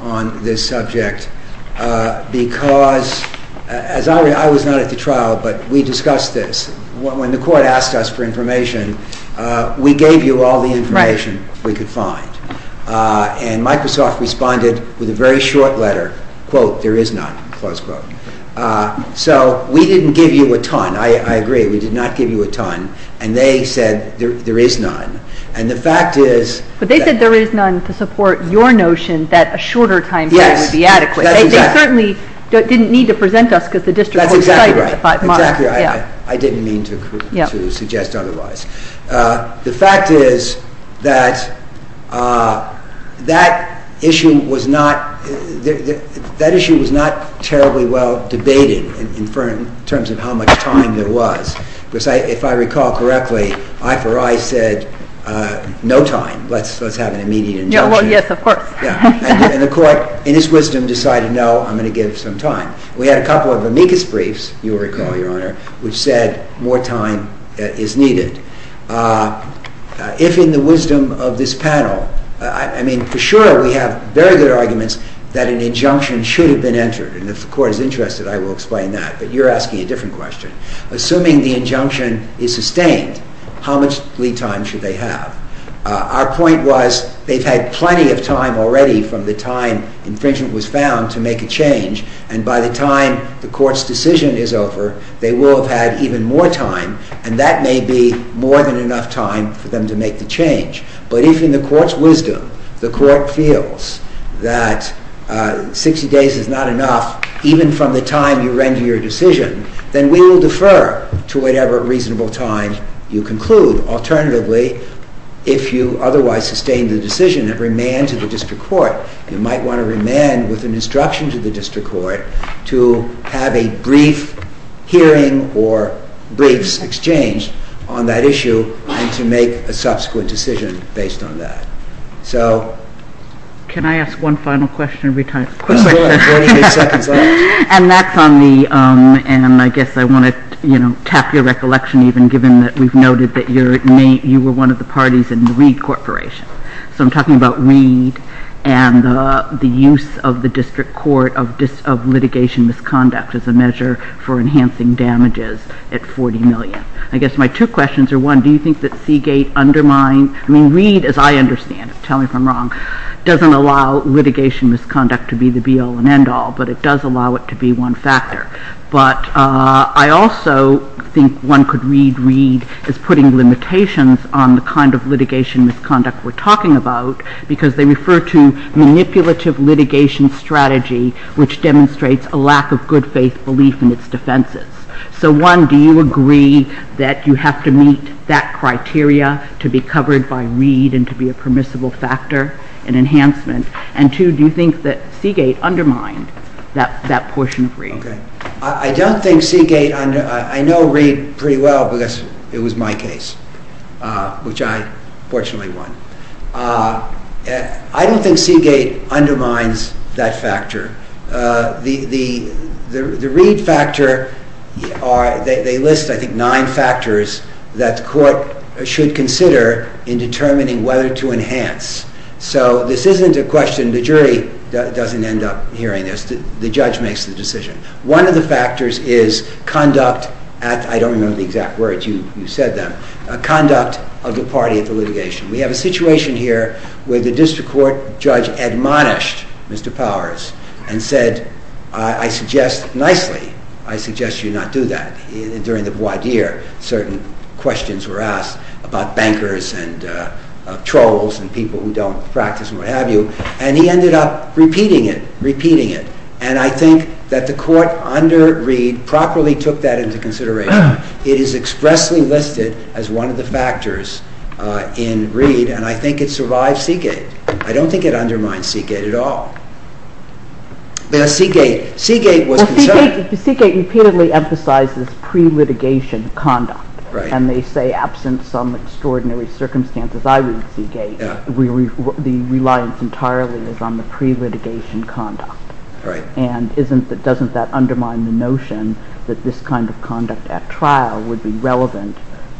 on this subject because, as I was not at the trial, but we discussed this, when the court asked us for information, we gave you all the information we could find. And Microsoft responded with a very short letter, quote, there is none, close quote. So we didn't give you a ton, I agree, we did not give you a ton, and they said there is none. And the fact is... But they said there is none to support your notion that a shorter time frame would be adequate. Yes, that's exactly right. They certainly didn't need to present us because the district court decided it was a five-month... That's exactly right. Exactly right. I didn't mean to suggest otherwise. The fact is that that issue was not terribly well debated in terms of how much time there was. Because if I recall correctly, I4I said no time, let's have an immediate injunction. Yes, of course. And the court, in its wisdom, decided no, I'm going to give some time. We had a couple of amicus briefs, you will recall, Your Honor, which said more time is needed. If in the wisdom of this panel, I mean, for sure we have very good arguments that an injunction should have been entered, and if the court is interested, I will explain that, but you're asking a different question. Assuming the injunction is sustained, how much plea time should they have? Our point was, they've had plenty of time already from the time infringement was found to make a change, and by the time the court's decision is over, they will have had even more time, and that may be more than enough time for them to make the change. But if in the court's wisdom, the court feels that 60 days is not enough, even from the time you render your decision, then we will defer to whatever reasonable time you conclude. Alternatively, if you otherwise sustain the decision and remand to the district court, you might want to remand with an instruction to the district court to have a brief hearing or briefs exchanged on that issue, and to make a subsequent decision based on that. So... Can I ask one final question, and we'll be done? Of course, go ahead. You have 48 seconds left. And that's on the, and I guess I want to, you know, tap your recollection even, given that we've noted that you were one of the parties in the Reed Corporation. So I'm talking about Reed, and the use of the district court of litigation misconduct as a measure for enhancing damages at $40 million. I guess my two questions are, one, do you think that Seagate undermined, I mean, Reed, as I understand it, tell me if I'm wrong, doesn't allow litigation misconduct to be the be-all and end-all, but it does allow it to be one factor. But I also think one could read Reed as putting limitations on the kind of litigation misconduct we're talking about, because they refer to manipulative litigation strategy, which demonstrates a lack of good faith belief in its defenses. So one, do you agree that you have to meet that criteria to be covered by Reed and to be a permissible factor in enhancement? And two, do you think that Seagate undermined that portion of Reed? I don't think Seagate, I know Reed pretty well, because it was my case, which I fortunately won. I don't think Seagate undermines that factor. The Reed factor, they list, I think, nine factors that the court should consider in determining whether to enhance. So this isn't a question, the jury doesn't end up hearing this, the judge makes the decision. One of the factors is conduct, I don't remember the exact words, you said them, conduct of the party at the litigation. We have a situation here where the district court judge admonished Mr. Powers and said, I suggest, nicely, I suggest you not do that. During the voir dire, certain questions were asked about bankers and trolls and people who don't practice and what have you, and he ended up repeating it, repeating it. And I think that the court under Reed properly took that into consideration. It is expressly listed as one of the factors in Reed, and I think it survives Seagate. I don't think it undermines Seagate at all. Seagate was concerned... Seagate repeatedly emphasizes pre-litigation conduct, and they say, absent some extraordinary circumstances, I read Seagate, the reliance entirely is on the pre-litigation conduct. And doesn't that undermine the notion that this kind of conduct at trial would be relevant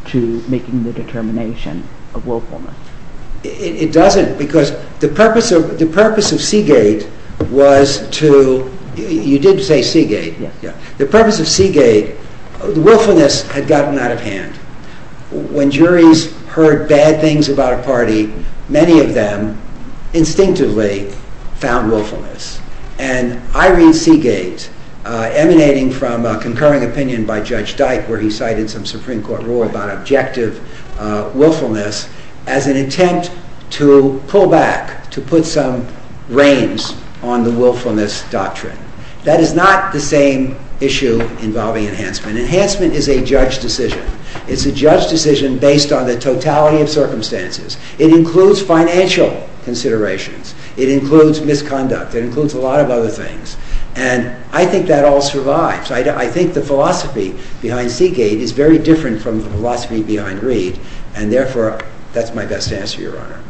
to making the determination of willfulness? It doesn't, because the purpose of Seagate was to... You did say Seagate. The purpose of Seagate, willfulness had gotten out of hand. When juries heard bad things about a party, many of them instinctively found willfulness. And I read Seagate emanating from a concurring opinion by Judge Dyke where he cited some attempt to pull back, to put some reins on the willfulness doctrine. That is not the same issue involving enhancement. Enhancement is a judge decision. It's a judge decision based on the totality of circumstances. It includes financial considerations. It includes misconduct. It includes a lot of other things. And I think that all survives. I think the philosophy behind Seagate is very different from the philosophy behind Reed, and therefore, that's my best answer, Your Honor.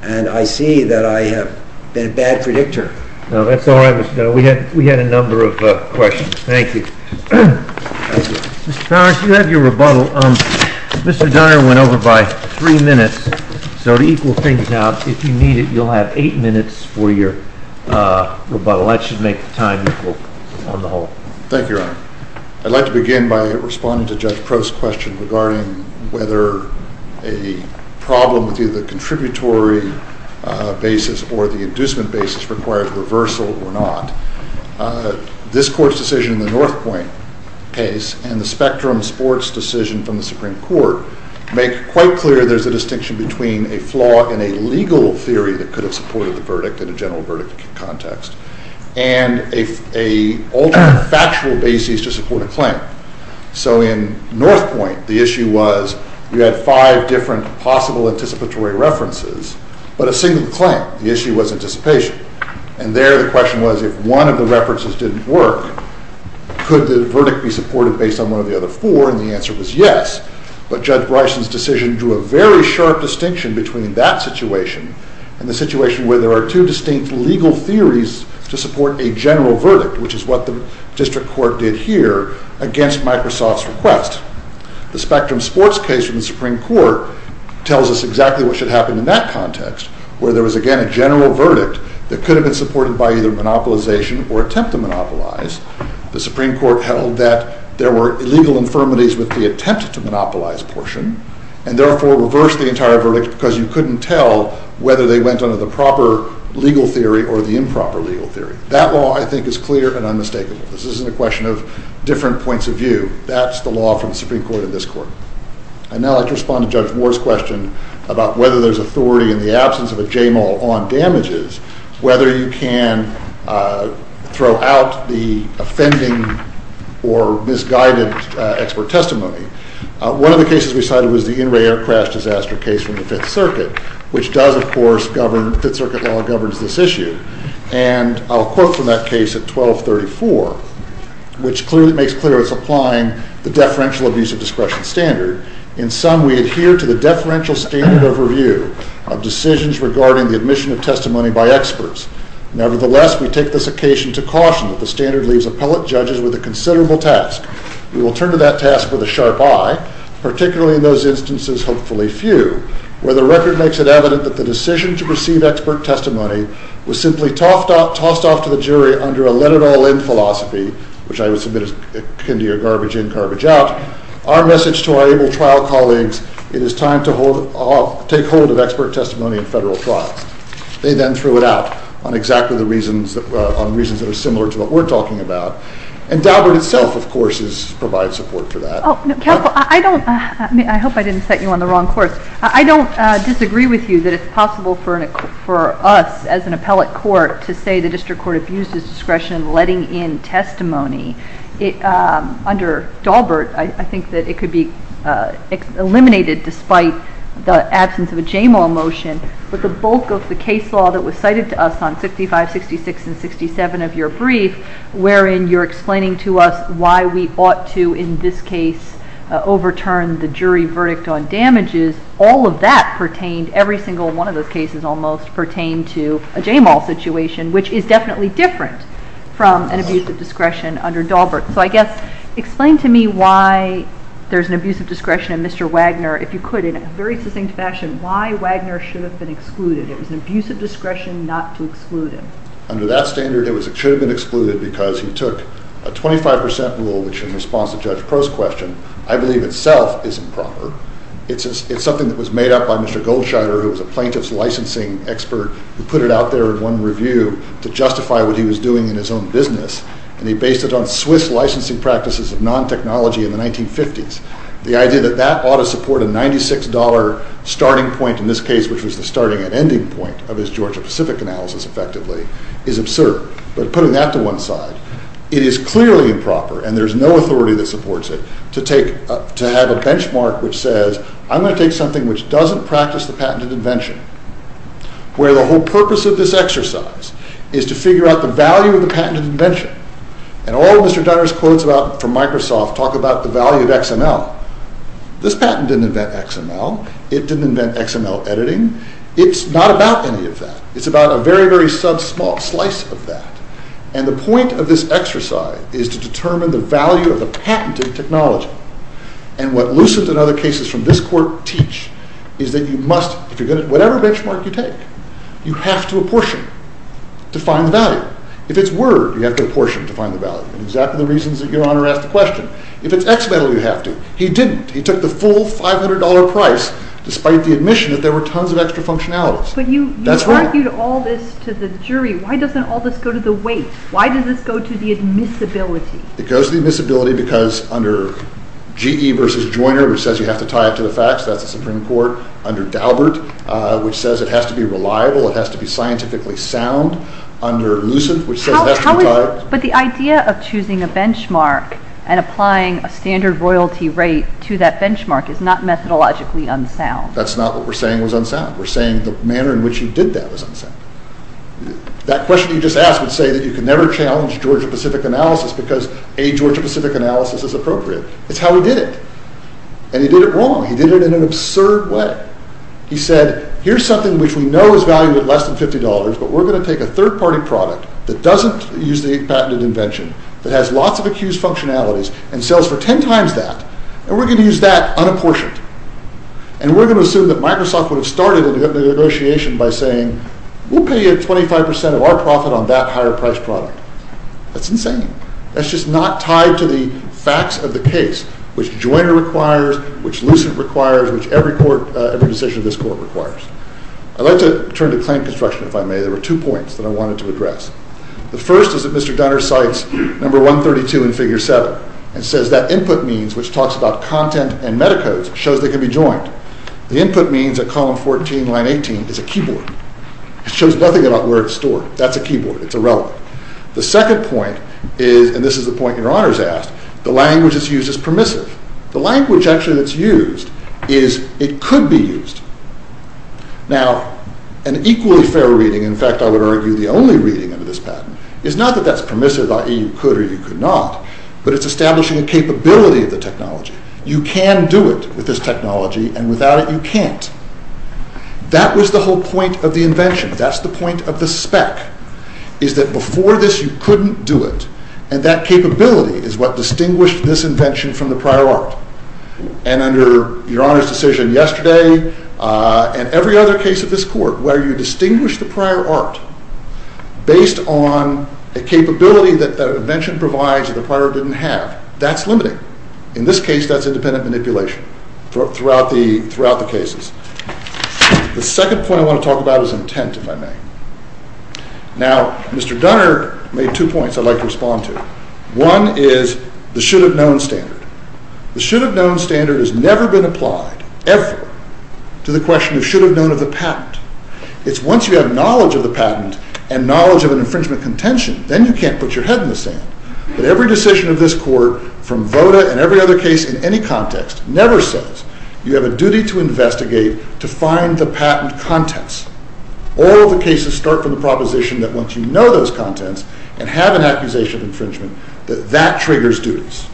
And I see that I have been a bad predictor. No, that's all right, Mr. Donner. We had a number of questions. Thank you. Thank you. Mr. Powers, you have your rebuttal. Mr. Donner went over by three minutes, so to equal things out, if you need it, you'll have eight minutes for your rebuttal. That should make the time equal on the whole. Thank you, Your Honor. I'd like to begin by responding to Judge Crow's question regarding whether a problem with either the contributory basis or the inducement basis requires reversal or not. This Court's decision in the North Point case and the Spectrum Sports decision from the Supreme Court make quite clear there's a distinction between a flaw in a legal theory that could have supported the verdict in a general verdict context and an alternate factual basis to support a claim. So in North Point, the issue was you had five different possible anticipatory references, but a single claim. The issue was anticipation. And there, the question was, if one of the references didn't work, could the verdict be supported based on one of the other four, and the answer was yes. But Judge Bryson's decision drew a very sharp distinction between that situation and the situation where there are two distinct legal theories to support a general verdict, which is what the District Court did here against Microsoft's request. The Spectrum Sports case from the Supreme Court tells us exactly what should happen in that context, where there was, again, a general verdict that could have been supported by either monopolization or attempt to monopolize. The Supreme Court held that there were illegal infirmities with the attempt to monopolize portion, and therefore reversed the entire verdict because you couldn't tell whether they went under the proper legal theory or the improper legal theory. That law, I think, is clear and unmistakable. This isn't a question of different points of view. That's the law from the Supreme Court in this court. I'd now like to respond to Judge Moore's question about whether there's authority in the absence of a JMOL on damages, whether you can throw out the offending or misguided expert testimony. One of the cases we cited was the in-ray air crash disaster case from the Fifth Circuit, which does, of course, govern—the Fifth Circuit law governs this issue. And I'll quote from that case at 1234, which makes clear it's applying the deferential abuse of discretion standard. In sum, we adhere to the deferential standard overview of decisions regarding the admission of testimony by experts. Nevertheless, we take this occasion to caution that the standard leaves appellate judges with a considerable task. We will turn to that task with a sharp eye, particularly in those instances, hopefully few, where the record makes it evident that the decision to receive expert testimony was simply tossed off to the jury under a let-it-all-in philosophy, which I would submit can be a garbage in, garbage out. Our message to our ABLE trial colleagues, it is time to take hold of expert testimony in federal trials. They then threw it out on exactly the reasons that are similar to what we're talking about. And Daubert itself, of course, provides support for that. Oh, no, I don't—I hope I didn't set you on the wrong course. I don't disagree with you that it's possible for us as an appellate court to say the I think that it could be eliminated despite the absence of a JMAL motion, but the bulk of the case law that was cited to us on 65, 66, and 67 of your brief, wherein you're explaining to us why we ought to, in this case, overturn the jury verdict on damages, all of that pertained, every single one of those cases almost, pertained to a JMAL situation, which is definitely different from an abuse of discretion under Daubert. So, I guess, explain to me why there's an abuse of discretion in Mr. Wagner, if you could, in a very succinct fashion, why Wagner should have been excluded. It was an abuse of discretion not to exclude him. Under that standard, it should have been excluded because he took a 25 percent rule, which in response to Judge Crow's question, I believe itself is improper. It's something that was made up by Mr. Goldscheider, who was a plaintiff's licensing expert, who put it out there in one review to justify what he was doing in his own business, and he based it on Swiss licensing practices of non-technology in the 1950s. The idea that that ought to support a $96 starting point, in this case, which was the starting and ending point of his Georgia-Pacific analysis, effectively, is absurd. But putting that to one side, it is clearly improper, and there's no authority that supports it, to take, to have a benchmark which says, I'm going to take something which doesn't practice the patented invention, where the whole purpose of this exercise is to figure out the value of the patented invention, and all Mr. Dunner's quotes from Microsoft talk about the value of XML. This patent didn't invent XML. It didn't invent XML editing. It's not about any of that. It's about a very, very sub-small slice of that, and the point of this exercise is to determine the value of the patented technology, and what Lucent and other cases from this court teach is that you must, if you're good at whatever benchmark you take, you have to apportion to find the value. If it's Word, you have to apportion to find the value, and exactly the reasons that Your Honor asked the question. If it's XML, you have to. He didn't. He took the full $500 price, despite the admission that there were tons of extra functionalities. But you argued all this to the jury. Why doesn't all this go to the weight? Why does this go to the admissibility? It goes to the admissibility because under GE versus Joyner, which says you have to tie it to the facts, that's the Supreme Court, under Daubert, which says it has to be reliable, it has to be scientifically sound, under Lucent, which says it has to be tied. But the idea of choosing a benchmark and applying a standard royalty rate to that benchmark is not methodologically unsound. That's not what we're saying was unsound. We're saying the manner in which he did that was unsound. That question you just asked would say that you can never challenge Georgia-Pacific analysis because a Georgia-Pacific analysis is appropriate. It's how he did it, and he did it wrong. He did it in an absurd way. He said, here's something which we know is valued at less than $50, but we're going to take a third-party product that doesn't use the patented invention, that has lots of accused functionalities and sells for 10 times that, and we're going to use that unapportioned. And we're going to assume that Microsoft would have started the negotiation by saying, we'll pay you 25% of our profit on that higher-priced product. That's insane. That's just not tied to the facts of the case, which Joyner requires, which Lucent requires, which every decision of this court requires. I'd like to turn to claim construction, if I may. There were two points that I wanted to address. The first is that Mr. Dunner cites number 132 in figure 7 and says that input means, which talks about content and metacodes, shows they can be joined. The input means that column 14, line 18 is a keyboard. It shows nothing about where it's stored. That's a keyboard. It's irrelevant. The second point is, and this is the point your honors asked, the language that's used is permissive. The language actually that's used is, it could be used. Now, an equally fair reading, in fact, I would argue the only reading into this patent, is not that that's permissive, i.e. you could or you could not, but it's establishing a capability of the technology. You can do it with this technology, and without it you can't. That was the whole point of the invention. That's the point of the spec, is that before this you couldn't do it, and that capability is what distinguished this invention from the prior art. And under your honors' decision yesterday, and every other case of this court, where you distinguish the prior art based on a capability that the invention provides that the prior didn't have, that's limiting. In this case, that's independent manipulation throughout the cases. The second point I want to talk about is intent, if I may. Now, Mr. Dunner made two points I'd like to respond to. One is the should-have-known standard. The should-have-known standard has never been applied, ever, to the question of should-have-known of the patent. It's once you have knowledge of the patent and knowledge of an infringement contention, then you can't put your head in the sand. But every decision of this court, from VOTA and every other case in any context, never says you have a duty to investigate, to find the patent contents. All of the cases start from the proposition that once you know those contents and have an accusation of infringement, that that triggers duties.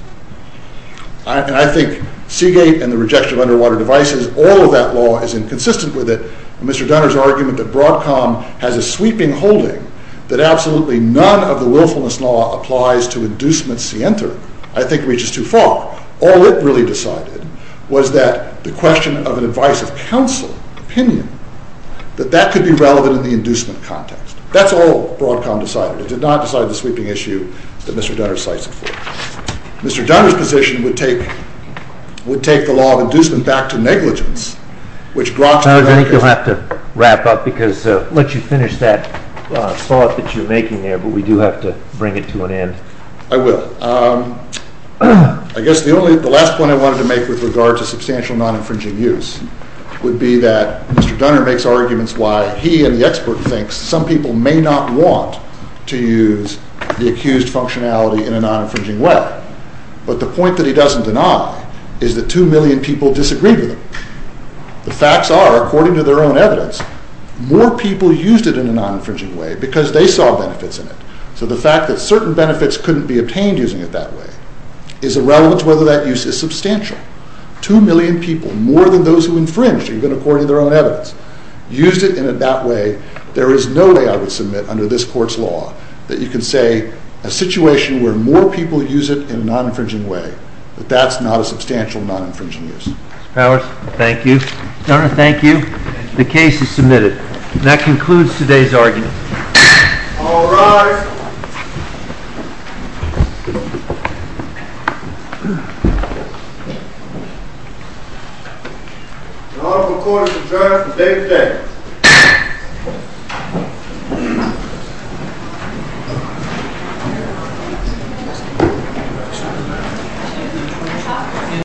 And I think Seagate and the rejection of underwater devices, all of that law is inconsistent with it. Mr. Dunner's argument that Broadcom has a sweeping holding, that absolutely none of the willfulness law applies to inducement scienter, I think reaches too far. All it really decided was that the question of an advice of counsel, opinion, that that could be relevant in the inducement context. That's all Broadcom decided. It did not decide the sweeping issue that Mr. Dunner cites it for. Mr. Dunner's position would take the law of inducement back to negligence, which brought to the record— I think you'll have to wrap up, because I'll let you finish that thought that you're making there, but we do have to bring it to an end. I will. I guess the last point I wanted to make with regard to substantial non-infringing use would be that Mr. Dunner makes arguments why he and the expert think some people may not want to use the accused functionality in a non-infringing way, but the point that he doesn't deny is that two million people disagreed with him. The facts are, according to their own evidence, more people used it in a non-infringing way because they saw benefits in it. So the fact that certain benefits couldn't be obtained using it that way is irrelevant to whether that use is substantial. Two million people, more than those who infringed, even according to their own evidence, used it in that way. There is no way I would submit under this court's law that you can say a situation where more people use it in a non-infringing way, that that's not a substantial non-infringing use. Mr. Powers, thank you. Mr. Dunner, thank you. The case is submitted. That concludes today's argument. All rise.